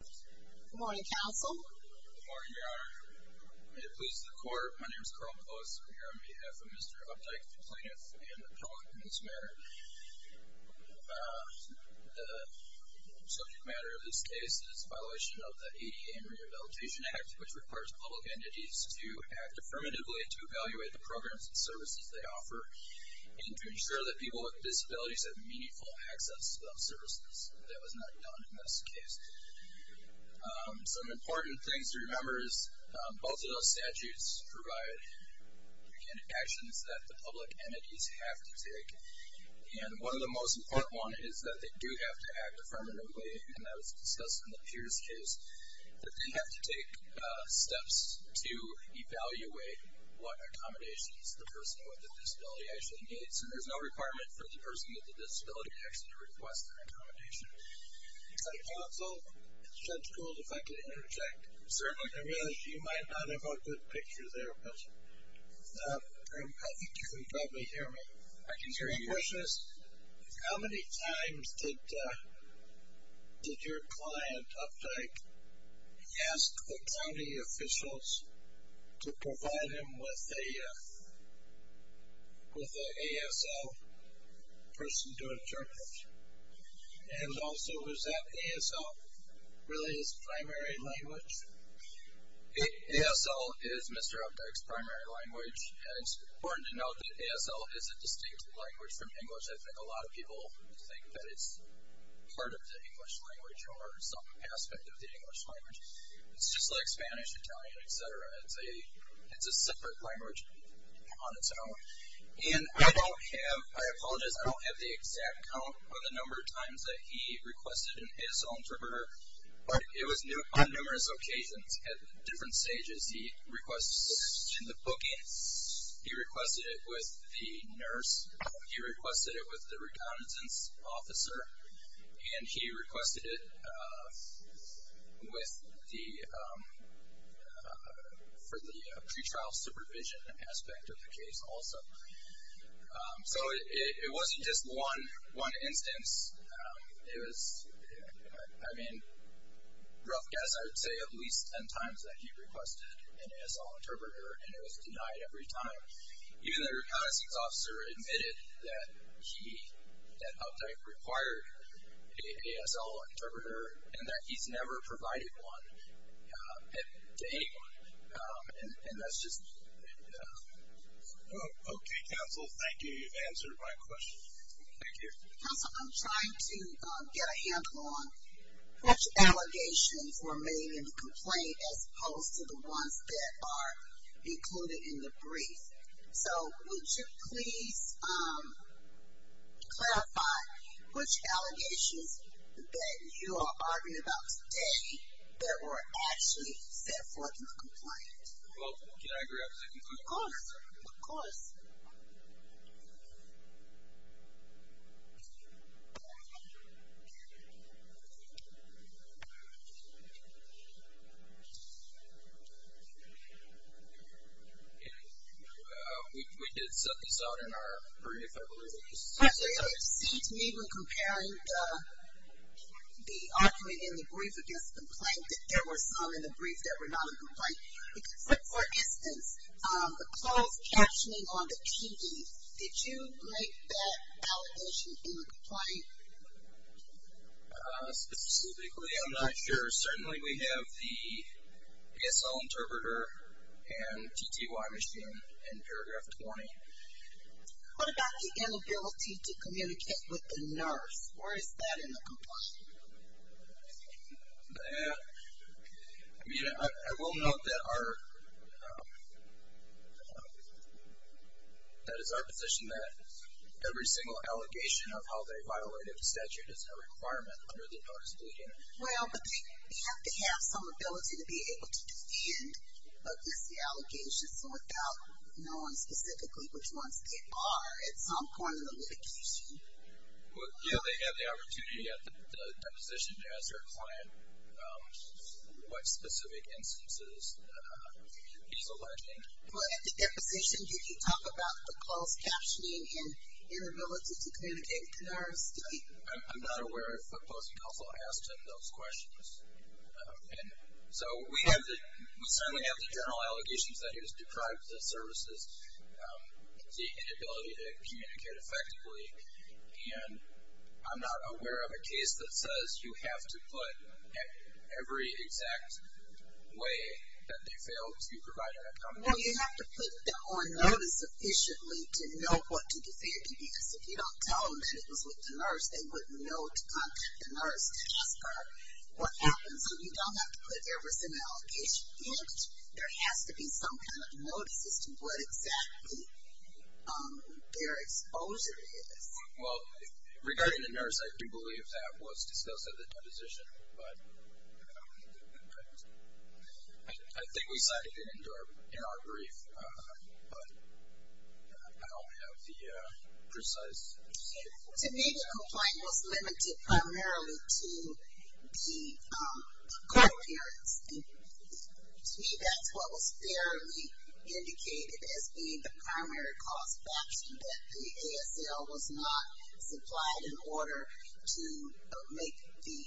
Good morning, Counsel. Good morning, Your Honor. May it please the Court, my name is Carl Post. I'm here on behalf of Mr. Updike, the plaintiff, and the appellant in this matter. The subject matter of this case is the violation of the ADA and Rehabilitation Act, which requires public entities to act affirmatively to evaluate the programs and services they offer and to ensure that people with disabilities have meaningful access to those services. That was not done in this case. Some important things to remember is both of those statutes provide actions that the public entities have to take. And one of the most important ones is that they do have to act affirmatively, and that was discussed in the Pierce case. But they have to take steps to evaluate what accommodations the person with a disability actually needs. And there's no requirement for the person with a disability to actually request an accommodation. Counsel, Judge Gould, if I could interject. Certainly. I realize you might not have a good picture there. Can you probably hear me? I can hear you. My question is, how many times did your client, Updike, ask the county officials to provide him with an ASL person to interpret? And also, is that ASL really his primary language? ASL is Mr. Updike's primary language. It's important to note that ASL is a distinct language from English. I think a lot of people think that it's part of the English language or some aspect of the English language. It's just like Spanish, Italian, etc. It's a separate language on its own. And I apologize, I don't have the exact count of the number of times that he requested an ASL interpreter, but it was on numerous occasions at different stages. He requested it in the booking, he requested it with the nurse, he requested it with the reconnaissance officer, and he requested it for the pretrial supervision aspect of the case also. So it wasn't just one instance. It was, I mean, rough guess, I would say at least ten times that he requested an ASL interpreter, and it was denied every time. Even the reconnaissance officer admitted that Updike required an ASL interpreter, and that he's never provided one to anyone. And that's just... Okay, counsel, thank you. You've answered my question. Thank you. Counsel, I'm trying to get a handle on which allegations were made in the complaint as opposed to the ones that are included in the brief. So would you please clarify which allegations that you are arguing about today that were actually set forth in the complaint? Well, can I grab a second? Of course. Of course. Okay. We did set this out in our brief, I believe it was. Actually, it seemed to me when comparing the argument in the brief against the complaint that there were some in the brief that were not a complaint. Because for instance, the closed captioning on the TV, did you make that allegation in the complaint? Specifically, I'm not sure. Certainly we have the ASL interpreter and TTY machine in paragraph 20. What about the inability to communicate with the nurse? Where is that in the complaint? I mean, I will note that our, that is our position that every single allegation of how they violated the statute is a requirement under the notice of the union. Well, but they have to have some ability to be able to defend against the allegations without knowing specifically which ones they are at some point in the litigation. Well, yeah, they have the opportunity at the deposition to ask their client what specific instances he's alleging. Well, at the deposition, did you talk about the closed captioning and inability to communicate with the nurse? I'm not aware if FootPost also asked him those questions. And so we have the, we certainly have the general allegations that he was deprived of services, the inability to communicate effectively. And I'm not aware of a case that says you have to put every exact way that they failed to provide an accommodation. Well, you have to put that on notice efficiently to know what to defend. Because if you don't tell them that it was with the nurse, they wouldn't know to contact the nurse to ask her what happened. So you don't have to put every single allegation. And there has to be some kind of notice as to what exactly their exposure is. Well, regarding the nurse, I do believe that was discussed at the deposition. I think we cited it in our brief, but I don't have the precise. To me, the complaint was limited primarily to the court appearance. To me, that's what was fairly indicated as being the primary cause of action, that the ASL was not supplied in order to make the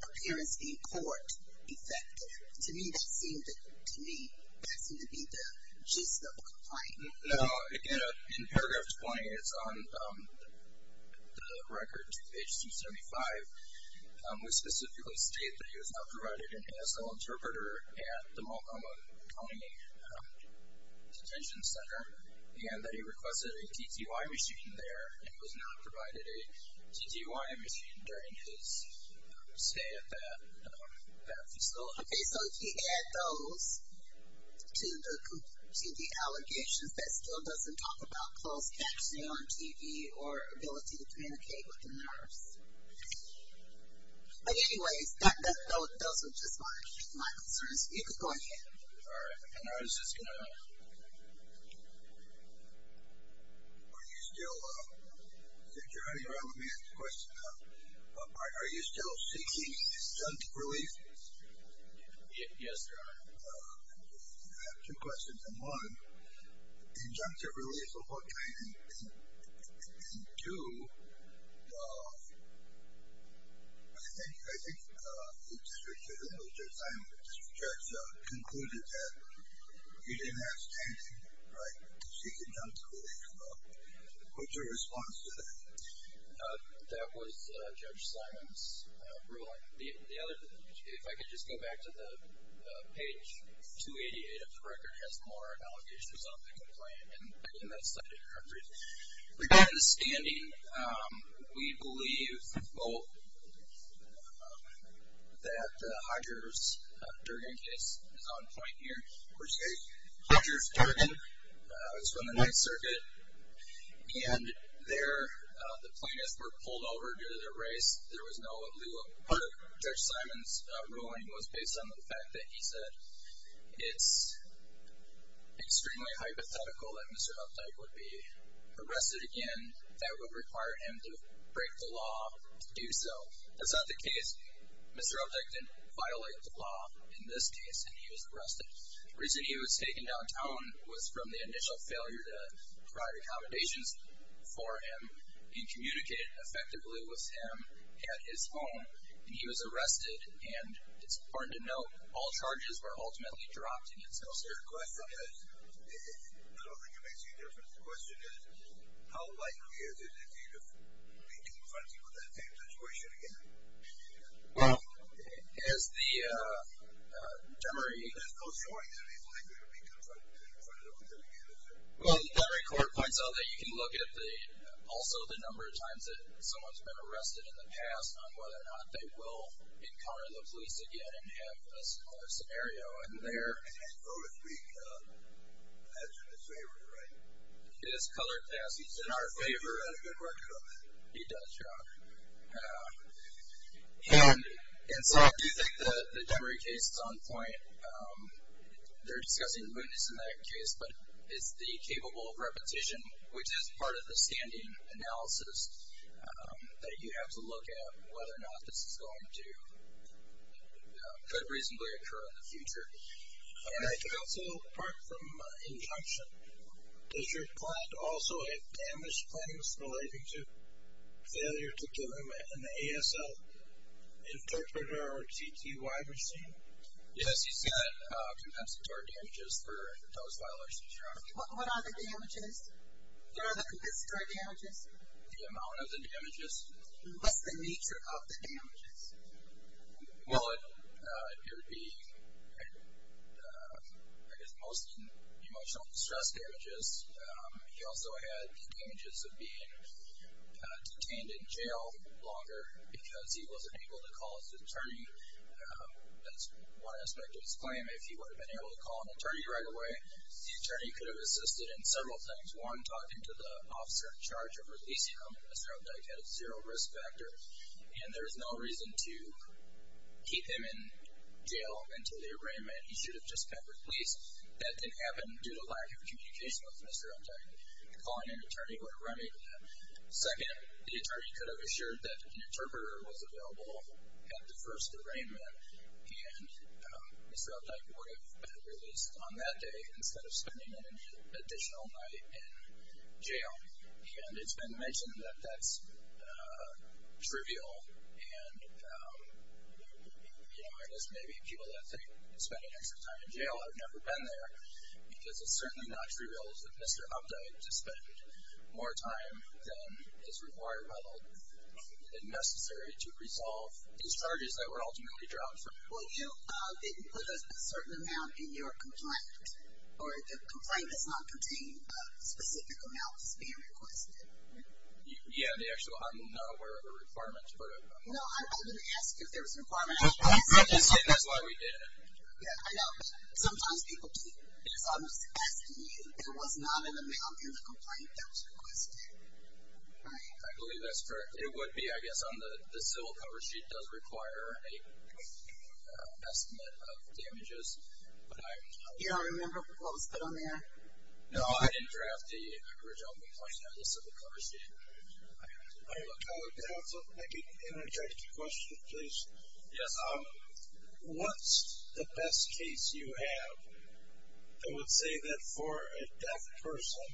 appearance in court effective. To me, that seemed to be the gist of the complaint. No, again, in paragraph 20, it's on the record, page 275. We specifically state that he was not provided an ASL interpreter at the Multnomah County Detention Center, and that he requested a TTY machine there and was not provided a TTY machine during his stay at that facility. Okay, so if you add those to the allegations, that still doesn't talk about closed captioning on TV or ability to communicate with the nurse. But anyways, those are just my concerns. You can go ahead. All right. And I was just going to ask, are you still seeking injunctive relief? Yes, Your Honor. I have two questions. And one, injunctive relief of what kind? And two, I think Judge Simon concluded that he didn't have standing, right, seeking injunctive relief. What's your response to that? That was Judge Simon's ruling. If I could just go back to the page 288 of the record, it has more allegations on the complaint. Regarding the standing, we believe that Hodger's Durgan case is on point here. Hodger's Durgan is from the Ninth Circuit, and there the plaintiffs were pulled over due to their race. Part of Judge Simon's ruling was based on the fact that he said it's extremely hypothetical that Mr. Updike would be arrested again. That would require him to break the law to do so. That's not the case. Mr. Updike didn't violate the law in this case, and he was arrested. The reason he was taken downtown was from the initial failure to provide accommodations for him and communicate effectively with him at his home. And he was arrested. And it's important to note, all charges were ultimately dropped against him. Your question is, I don't think it makes any difference. The question is, how likely is it that he would be confronted with that same situation again? Well, as the jury. There's no showing that he's likely to be confronted with it again, is there? Well, the jury court points out that you can look at also the number of times that someone's been arrested in the past on whether or not they will encounter the police again and have a similar scenario. And there. And he's, so to speak, in the favor, right? He is colored, yes. He's in our favor. He's got a good record on that. He does, yeah. And so I do think the Demery case is on point. They're discussing mootness in that case, but it's the capable of repetition, which is part of the standing analysis that you have to look at whether or not this is going to reasonably occur in the future. Also, apart from injunction, does your client also have damage claims relating to failure to give him an ASL interpreter or TTY machine? Yes, he's got compensatory damages for those violations. What are the damages? What are the compensatory damages? The amount of the damages. What's the nature of the damages? Well, it would be, I guess, most emotional distress damages. He also had damages of being detained in jail longer because he wasn't able to call his attorney. That's one aspect of his claim. If he would have been able to call an attorney right away, the attorney could have assisted in several things. One, talking to the officer in charge of releasing him, Mr. Updike had a zero risk factor, and there was no reason to keep him in jail until the arraignment. He should have just kept released. That didn't happen due to lack of communication with Mr. Updike. Calling an attorney would have remedied that. Second, the attorney could have assured that an interpreter was available at the first arraignment, and Mr. Updike would have been released on that day in jail, and it's been mentioned that that's trivial, and I guess maybe people that think spending extra time in jail have never been there because it's certainly not trivial for Mr. Updike to spend more time than is required by the law and necessary to resolve these charges that were ultimately drawn from him. Well, you didn't put a certain amount in your complaint, or the complaint does not contain specific amounts being requested. Yeah, I'm not aware of the requirements. No, I didn't ask if there was a requirement. I'm just saying that's why we did it. Yeah, I know. Sometimes people do. I'm just asking you if there was not an amount in the complaint that was requested. I believe that's correct. It would be, I guess, on the civil cover sheet does require an estimate of damages. You don't remember what was put on there? No, I didn't draft the original complaint. I just said the cover sheet. Can I also interject a question, please? Yes. What's the best case you have that would say that for a deaf person,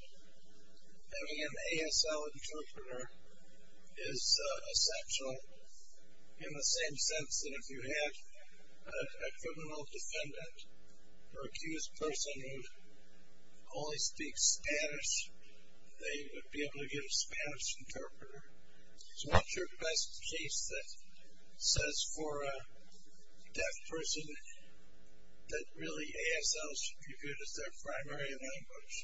having an ASL interpreter is essential in the same sense that if you had a criminal defendant or accused person who only speaks Spanish, they would be able to give a Spanish interpreter? So what's your best case that says for a deaf person that really ASL should be good as their primary language?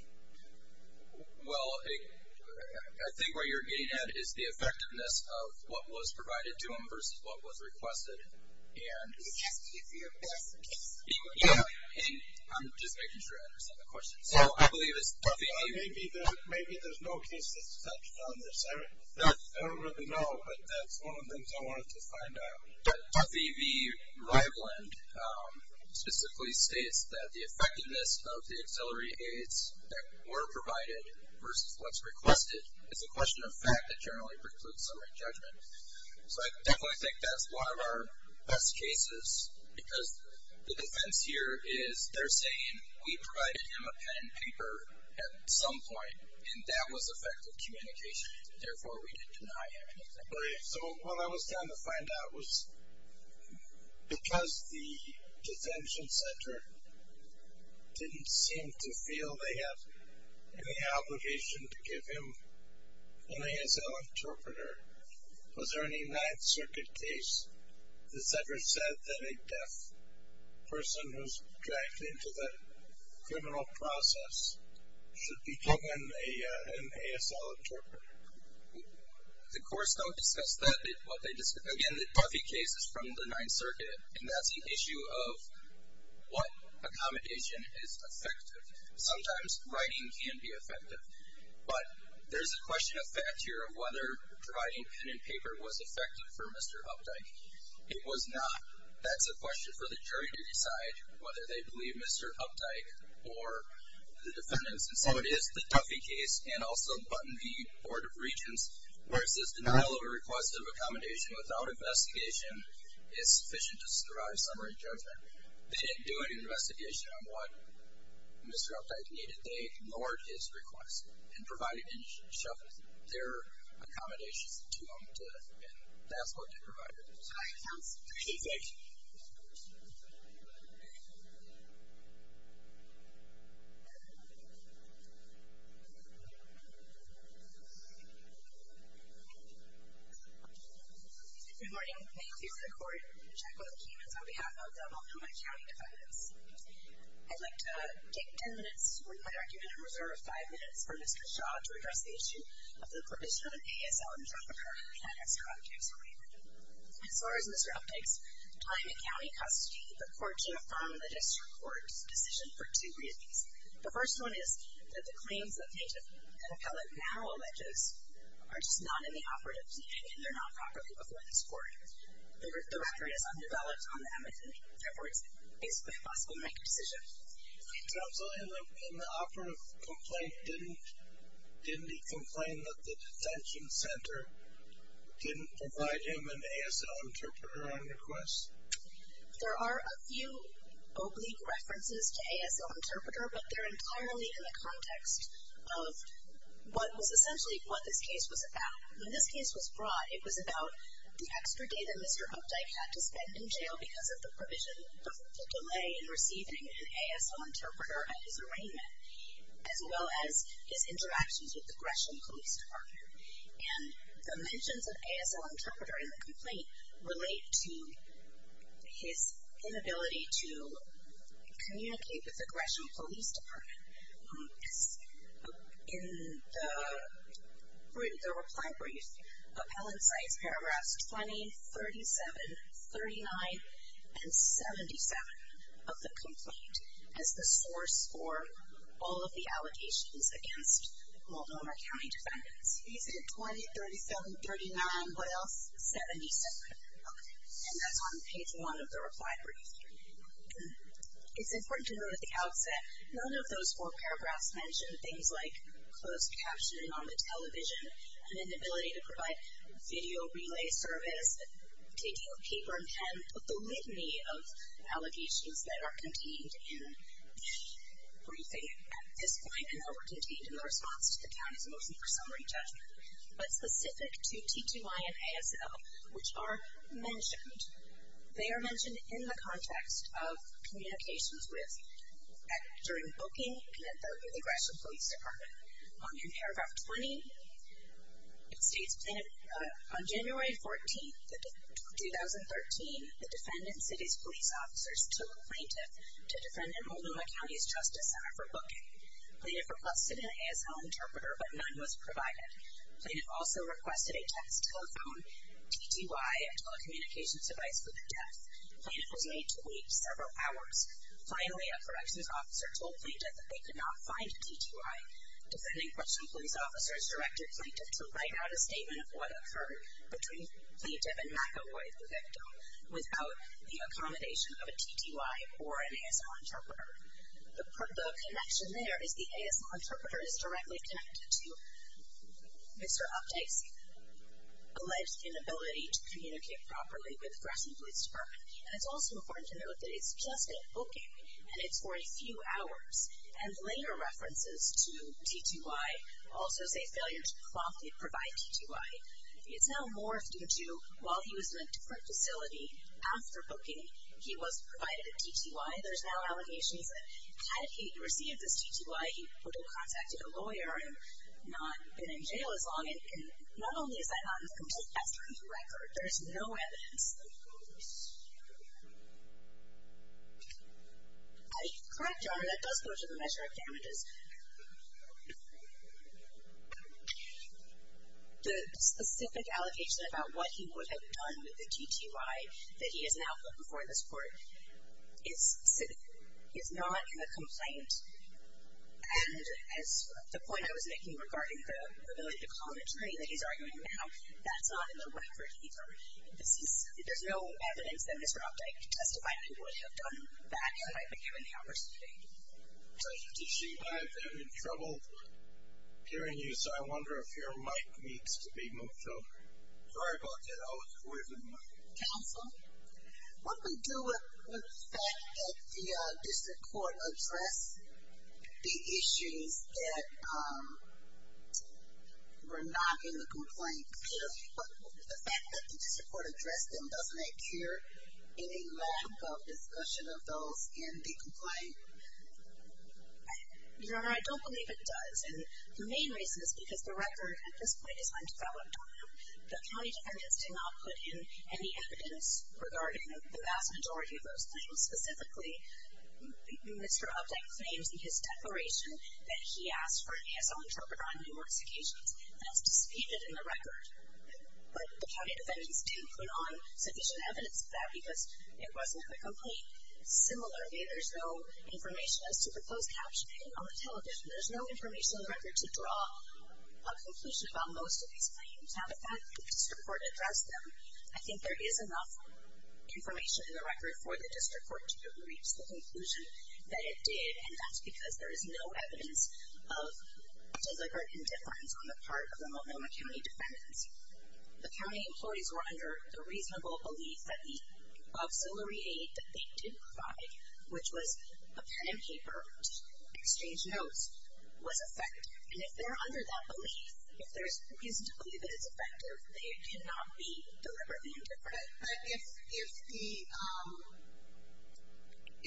Well, I think what you're getting at is the effectiveness of what was provided to them versus what was requested. And I'm just making sure I understand the question. So I believe it's Duffy V. Maybe there's no case that's such on this. I don't really know, but that's one of the things I wanted to find out. Duffy V. Riveland specifically states that the effectiveness of the auxiliary aids that were provided versus what's requested is a question of fact that generally precludes summary judgment. So I definitely think that's one of our best cases because the defense here is they're saying we provided him a pen and paper at some point, and that was effective communication, and therefore we didn't deny him anything. Right. So what I was trying to find out was because the detention center didn't seem to feel that they have any obligation to give him an ASL interpreter, was there any Ninth Circuit case that's ever said that a deaf person who's dragged into the criminal process should be given an ASL interpreter? The courts don't discuss that. Again, the Duffy case is from the Ninth Circuit, and that's the issue of what accommodation is effective. Sometimes writing can be effective, but there's a question of fact here of whether providing pen and paper was effective for Mr. Hupdyke. It was not. That's a question for the jury to decide whether they believe Mr. Hupdyke or the defendants. And so it is the Duffy case and also Button V. Board of Regents where it says denial of a request of accommodation without investigation is sufficient to survive summary judgment. They didn't do an investigation on what Mr. Hupdyke needed. They ignored his request and provided their accommodations to him, and that's what they provided. All right. Thank you. Good morning. Thank you for the court. I'm Jacquelyn Keemans on behalf of the Multnomah County defendants. I'd like to take ten minutes with my argument and reserve five minutes for Mr. Shaw to address the issue of the provision of an ASL interpreter in the case of Mr. Hupdyke's arraignment. As far as Mr. Hupdyke's time in county custody, the court did affirm the district court's decision for two reasons. The first one is that the claims that an appellate now alleges are just not within the operative's meaning and they're not properly before this court. The record is undeveloped on the eminent reports. It's basically impossible to make a decision. So in the operative complaint, didn't he complain that the detention center didn't provide him an ASL interpreter on request? There are a few oblique references to ASL interpreter, but they're entirely in the context of what was essentially what this case was about. When this case was brought, it was about the extra day that Mr. Hupdyke had to spend in jail because of the provision of the delay in receiving an ASL interpreter at his arraignment, as well as his interactions with the Gresham Police Department. And the mentions of ASL interpreter in the complaint relate to his inability to communicate with the Gresham Police Department. In the reply brief, appellant cites paragraphs 20, 37, 39, and 77 of the complaint as the source for all of the allegations against Multnomah County defendants. He said 20, 37, 39, what else? 77. And that's on page one of the reply brief. It's important to note at the outset, none of those four paragraphs mention things like closed captioning on the television, an inability to provide video relay service, taking of paper and pen, but the litany of allegations that are contained in briefing at this point, and that were contained in the response to the county's motion for summary judgment, but specific to TTY and ASL, which are mentioned. They are mentioned in the context of communications with, during booking and at the Gresham Police Department. On paragraph 20, it states, on January 14, 2013, the defendant and city's police officers took a plaintiff to defendant Multnomah County's Justice Center for booking. Plaintiff requested an ASL interpreter, but none was provided. Plaintiff also requested a text telephone, TTY, and telecommunications device for their desk. Plaintiff was made to wait several hours. Finally, a corrections officer told plaintiff that they could not find a TTY. Defending Gresham police officers directed plaintiff to write out a statement of what occurred between plaintiff and McEvoy, the victim, without the accommodation of a TTY or an ASL interpreter. The connection there is the ASL interpreter is directly connected to Mr. Updike's alleged inability to communicate properly with Gresham Police Department. And it's also important to note that it's just at booking, and it's for a few hours. And later references to TTY also say failure to promptly provide TTY. It's now morphed into, while he was in a different facility, after booking, he was provided a TTY. There's now allegations that had he received this TTY, he would have contacted a lawyer and not been in jail as long. And not only is that not in the complaint, that's not on the record. There's no evidence. Correct, Your Honor, that does go to the measure of damages. The specific allocation about what he would have done with the TTY that he has now put before this court is not in the complaint. And as the point I was making regarding the ability to commentary that he's arguing now, that's not in the record either. There's no evidence that Mr. Updike testified he would have done that had he not been given the opportunity. Judge, did she have any trouble hearing you? So I wonder if your mic needs to be moved, though. Sorry about that. Counsel, what do we do with the fact that the district court addressed the issues that were not in the complaint? The fact that the district court addressed them, doesn't it cure any lack of discussion of those in the complaint? Your Honor, I don't believe it does. And the main reason is because the record at this point is on 2012. The county defendants did not put in any evidence regarding the vast majority of those claims. Specifically, Mr. Updike claims in his declaration that he asked for an ASL interpreter on numerous occasions. That's disputed in the record. But the county defendants did put on sufficient evidence of that because it wasn't in the complaint. Similarly, there's no information as to proposed captioning on the television. There's no information in the record to draw a conclusion about most of these claims. Now, the fact that the district court addressed them, I think there is enough information in the record for the district court to reach the conclusion that it did. And that's because there is no evidence of deliberate indifference on the part of the Multnomah County defendants. The county employees were under the reasonable belief that the auxiliary aid that they did provide, which was a pen and paper to exchange notes, was effective. And if they're under that belief, if there's reason to believe that it's effective, they did not be deliberately indifferent. But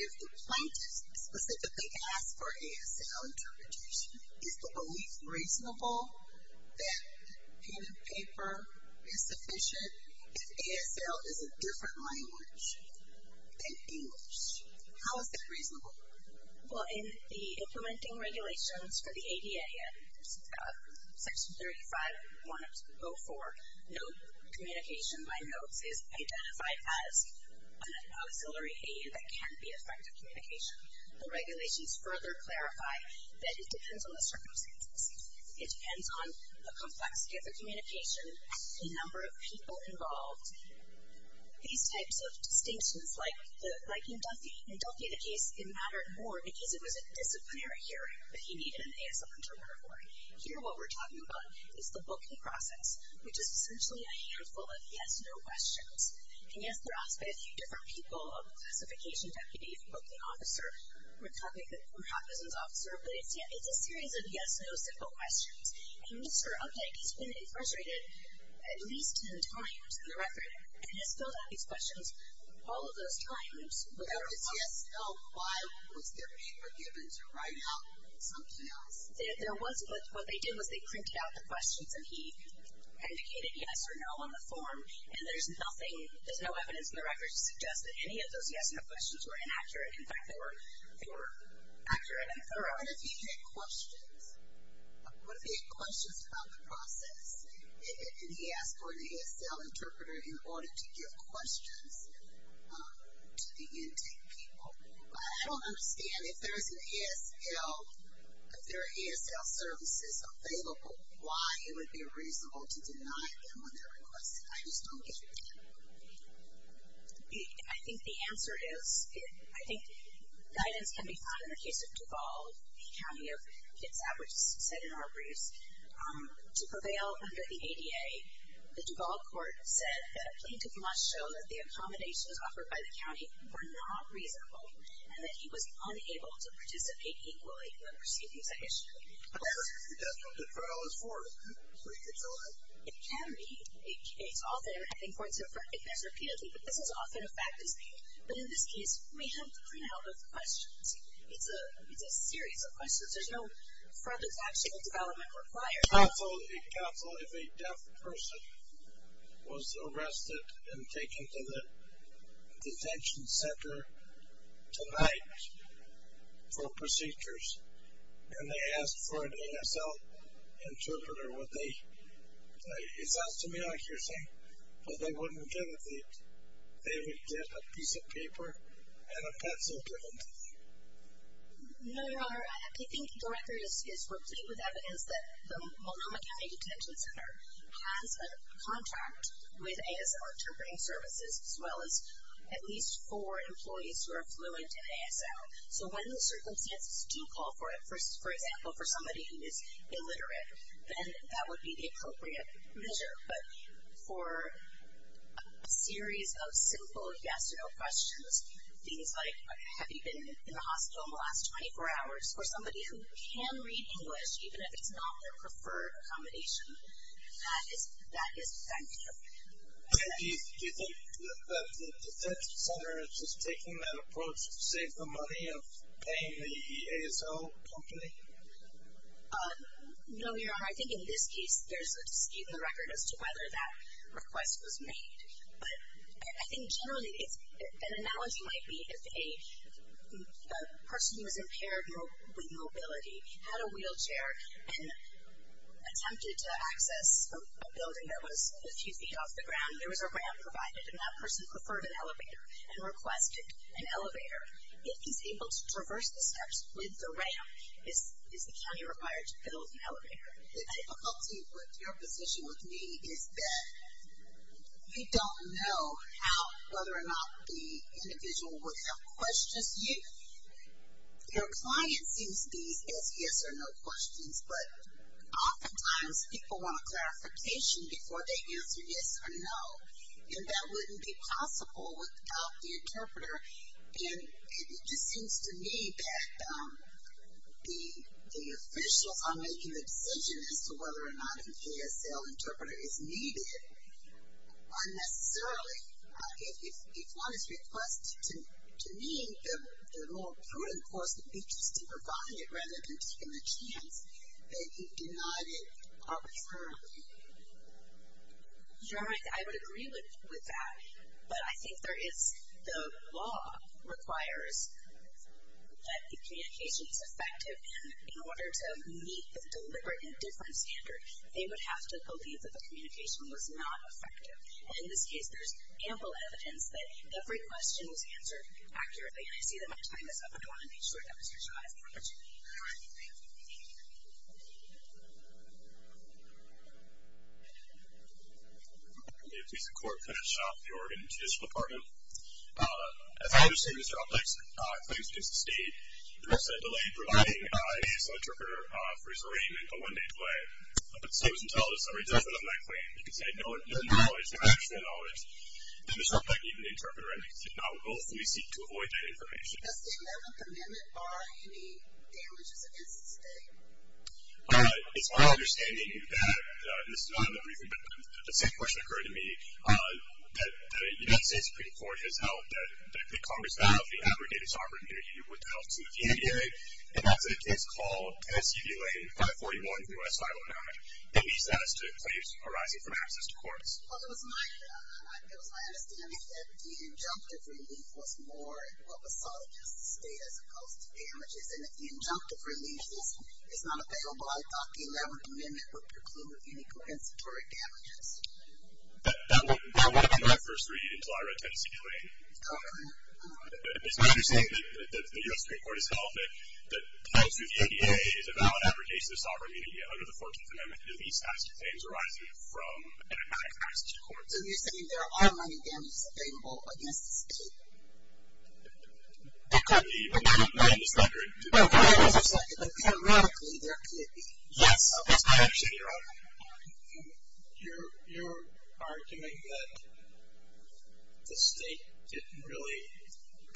if the plaintiff specifically asked for ASL interpretation, is the belief reasonable that pen and paper is sufficient? And if ASL is a different language than English, how is that reasonable? Well, in the implementing regulations for the ADA, Section 35-104, note communication by notes is identified as an auxiliary aid that can be effective communication. The regulations further clarify that it depends on the circumstances. It depends on the complexity of the communication, the number of people involved. These types of distinctions, like in Duffy, in Duffy the case, it mattered more because it was a disciplinary hearing, but he needed an ASL interpreter for it. Here what we're talking about is the booking process, which is essentially a handful of yes-no questions. And yes, they're asked by a few different people, a classification deputy, a booking officer, a recognizance officer, but it's a series of yes-no simple questions. And Mr. Updike has been incarcerated at least ten times in the record and has filled out these questions all of those times without a question. Why was there paper given to write out something else? What they did was they printed out the questions, and he indicated yes or no on the form, and there's no evidence in the records to suggest that any of those yes-no questions were inaccurate. In fact, they were accurate and thorough. What if he had questions? What if he had questions about the process, and he asked for an ASL interpreter in order to give questions to the intake people? I don't understand if there's an ASL, if there are ASL services available, why it would be reasonable to deny them on their request. I just don't get your point. I think the answer is, I think guidance can be found in the case of Duval, the county of Kitsap, which is set in our briefs. To prevail under the ADA, the Duval court said that a plaintiff must show that the accommodations offered by the county were not reasonable and that he was unable to participate equally when receiving such a sheet. But that's not what the trial is for, is it? It can be. It's often important to address repeatedly, but this is often a fact to speak. But in this case, we have to clean out those questions. It's a series of questions. There's no front that's actually in development required. Counsel, if a deaf person was arrested and taken to the detention center tonight for procedures, and they asked for an ASL interpreter, would they? It sounds to me like you're saying, but they wouldn't give it to you. They would get a piece of paper and a pencil, give it to you. No, Your Honor. I think the record is replete with evidence that the Multnomah County Detention Center has a contract with ASL interpreting services, as well as at least four employees who are fluent in ASL. So when the circumstances do call for it, for example, for somebody who is illiterate, then that would be the appropriate measure. But for a series of simple yes or no questions, things like, have you been in the hospital in the last 24 hours, for somebody who can read English, even if it's not their preferred accommodation, that is definitive. And do you think that the detention center is just taking that approach to save the money of paying the ASL company? No, Your Honor. I think in this case there's a state in the record as to whether that request was made. But I think generally an analogy might be if a person who is impaired with mobility had a wheelchair and attempted to access a building that was a few feet off the ground, there was a ramp provided, and that person preferred an elevator and requested an elevator. If he's able to traverse the steps with the ramp, is the county required to build an elevator? The difficulty with your position with me is that you don't know how, whether or not the individual would have questions. Your client sees these as yes or no questions, but oftentimes people want a clarification before they answer yes or no. And that wouldn't be possible without the interpreter. And it just seems to me that the officials are making the decision as to whether or not a KSL interpreter is needed unnecessarily. If one is requested, to me, the more important course of action is to provide it rather than taking the chance that you've denied it arbitrarily. Your Honor, I would agree with that. But I think there is the law requires that the communication is effective. And in order to meet the deliberate and different standards, they would have to believe that the communication was not effective. And in this case, there's ample evidence that every question was answered accurately. And I see that my time is up. I want to make sure that Mr. Shah has time. Thank you. Thank you. Thank you. Thank you. Thank you. Thank you. I'm going to be a piece of court. Kenneth Shaw, the Oregon Judicial Department. As I understand, Mr. Alpex, claims to exist a delayed providing a KSL interpreter for his arraignment on Monday play. But the state doesn't tell us. It doesn't have that claim. It can say no knowledge, no access to that knowledge. And Mr. Alpex, even the interpreter, I think, did not willfully seek to avoid that information. Does the amendment bar any damages against the state? It's my understanding that, and this is not a memory thing, but the same question occurred to me, that the United States Supreme Court has held that the Congress value of the aggregated sovereign immunity would be held to the NDA. And that's a case called Tennessee D-Lane 541 U.S. 509. And these status claims arise from access to courts. Well, it was my understanding that the injunctive relief was more what was sought against the state as opposed to damages. And if the injunctive relief is not available, I thought the 11th Amendment would preclude any compensatory damages. It's my understanding that the U.S. Supreme Court has held that the value of the NDA is a valid aggregation of sovereign immunity. Under the 14th Amendment, do these status claims arise from inadequate access to courts? So you're saying there are money damages available against the state? They could be. But that would not be in this record. No, that would not be in this record. Yes. That's my understanding, Your Honor. You're arguing that the state didn't really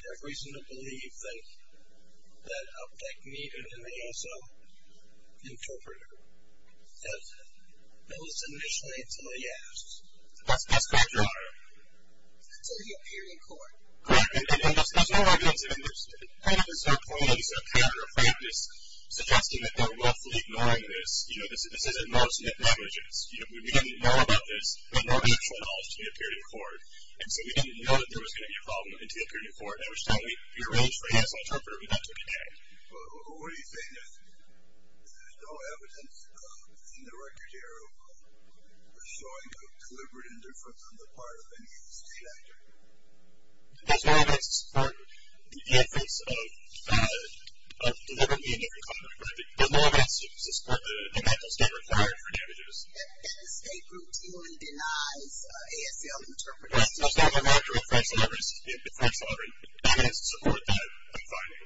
have reason to believe that a pick needed an ASO interpreter. It was initially until he asked. That's correct, Your Honor. It's only a period in court. Correct. And there's no argument in this. It kind of is a point, at least in a kind of a frankness, suggesting that they're roughly ignoring this. You know, this isn't law-submit languages. You know, we didn't know about this. We had no actual knowledge until the period of court. And so we didn't know that there was going to be a problem until the period of court. And I understand you're really afraid the ASO interpreter would not take it down. Well, what are you saying is there's no evidence in the record here of showing a deliberate indifference on the part of any state actor? There's no evidence to support the inference of deliberately indifferent conduct. There's no evidence to support the fact that it's not required for damages. And the state group, too, denies ASO interpreters. It's not required for inference. There's no evidence to support that finding.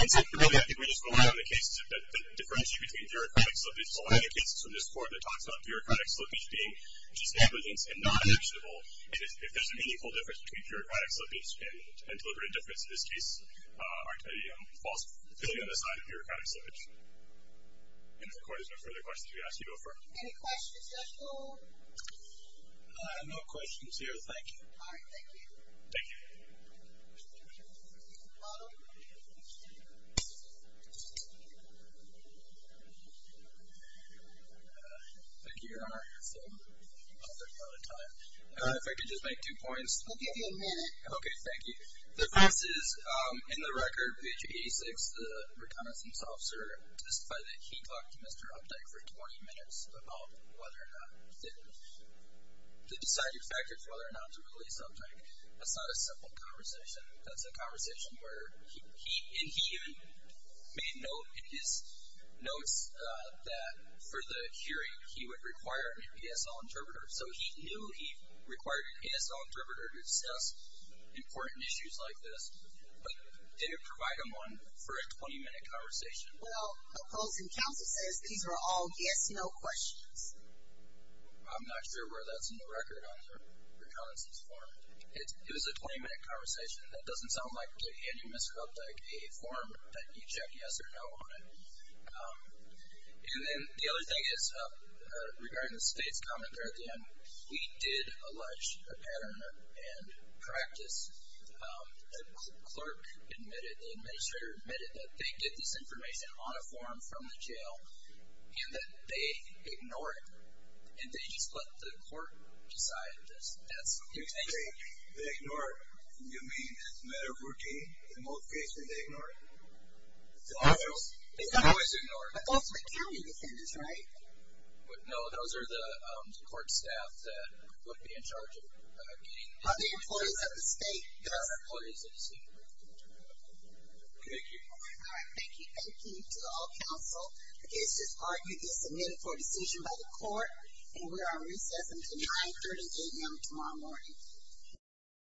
And so, really, I think we just rely on the cases that differentiate between bureaucratic slippage, rely on the cases from this court that talks about bureaucratic slippage being just negligence and not actionable. If there's an inequal difference between bureaucratic slippage and deliberate indifference in this case, aren't they a false feeling on the side of bureaucratic slippage? And if the court has no further questions, we ask you to go for it. Any questions at all? No questions here. Thank you. All right. Thank you. Thank you. Thank you, Your Honor. I think we're out of time. If I could just make two points. We'll give you a minute. Okay. Thank you. The first is, in the record, page 86, the reconnaissance officer testified that he talked to Mr. Updike for 20 minutes about whether or not the deciding factor for whether or not to release Updike. That's not a simple conversation. That's a conversation where he even made note in his notes that for the hearing, he would require an ASO interpreter. So he knew he required an ASO interpreter to assess important issues like this, but did it provide him one for a 20-minute conversation? Well, opposing counsel says these were all yes-no questions. I'm not sure whether that's in the record on the reconnaissance forum. It was a 20-minute conversation. That doesn't sound like to any Mr. Updike, a forum that you check yes or no on it. And then the other thing is, regarding the state's comment there at the end, we did allege a pattern and practice. The clerk admitted, the administrator admitted that they did this information on a forum from the jail and that they ignore it, and they just let the court decide. That's insane. They ignore it. You mean, as a matter of routine, in most cases, they ignore it? They always ignore it. But those are the county defendants, right? No, those are the court staff that would be in charge of getting the information. Are they employees of the state? They're not employees of the state. Thank you. All right. Thank you. Thank you to all counsel. It's just argued it's admitted for a decision by the court, and we are on recess until 9.30 a.m. tomorrow morning.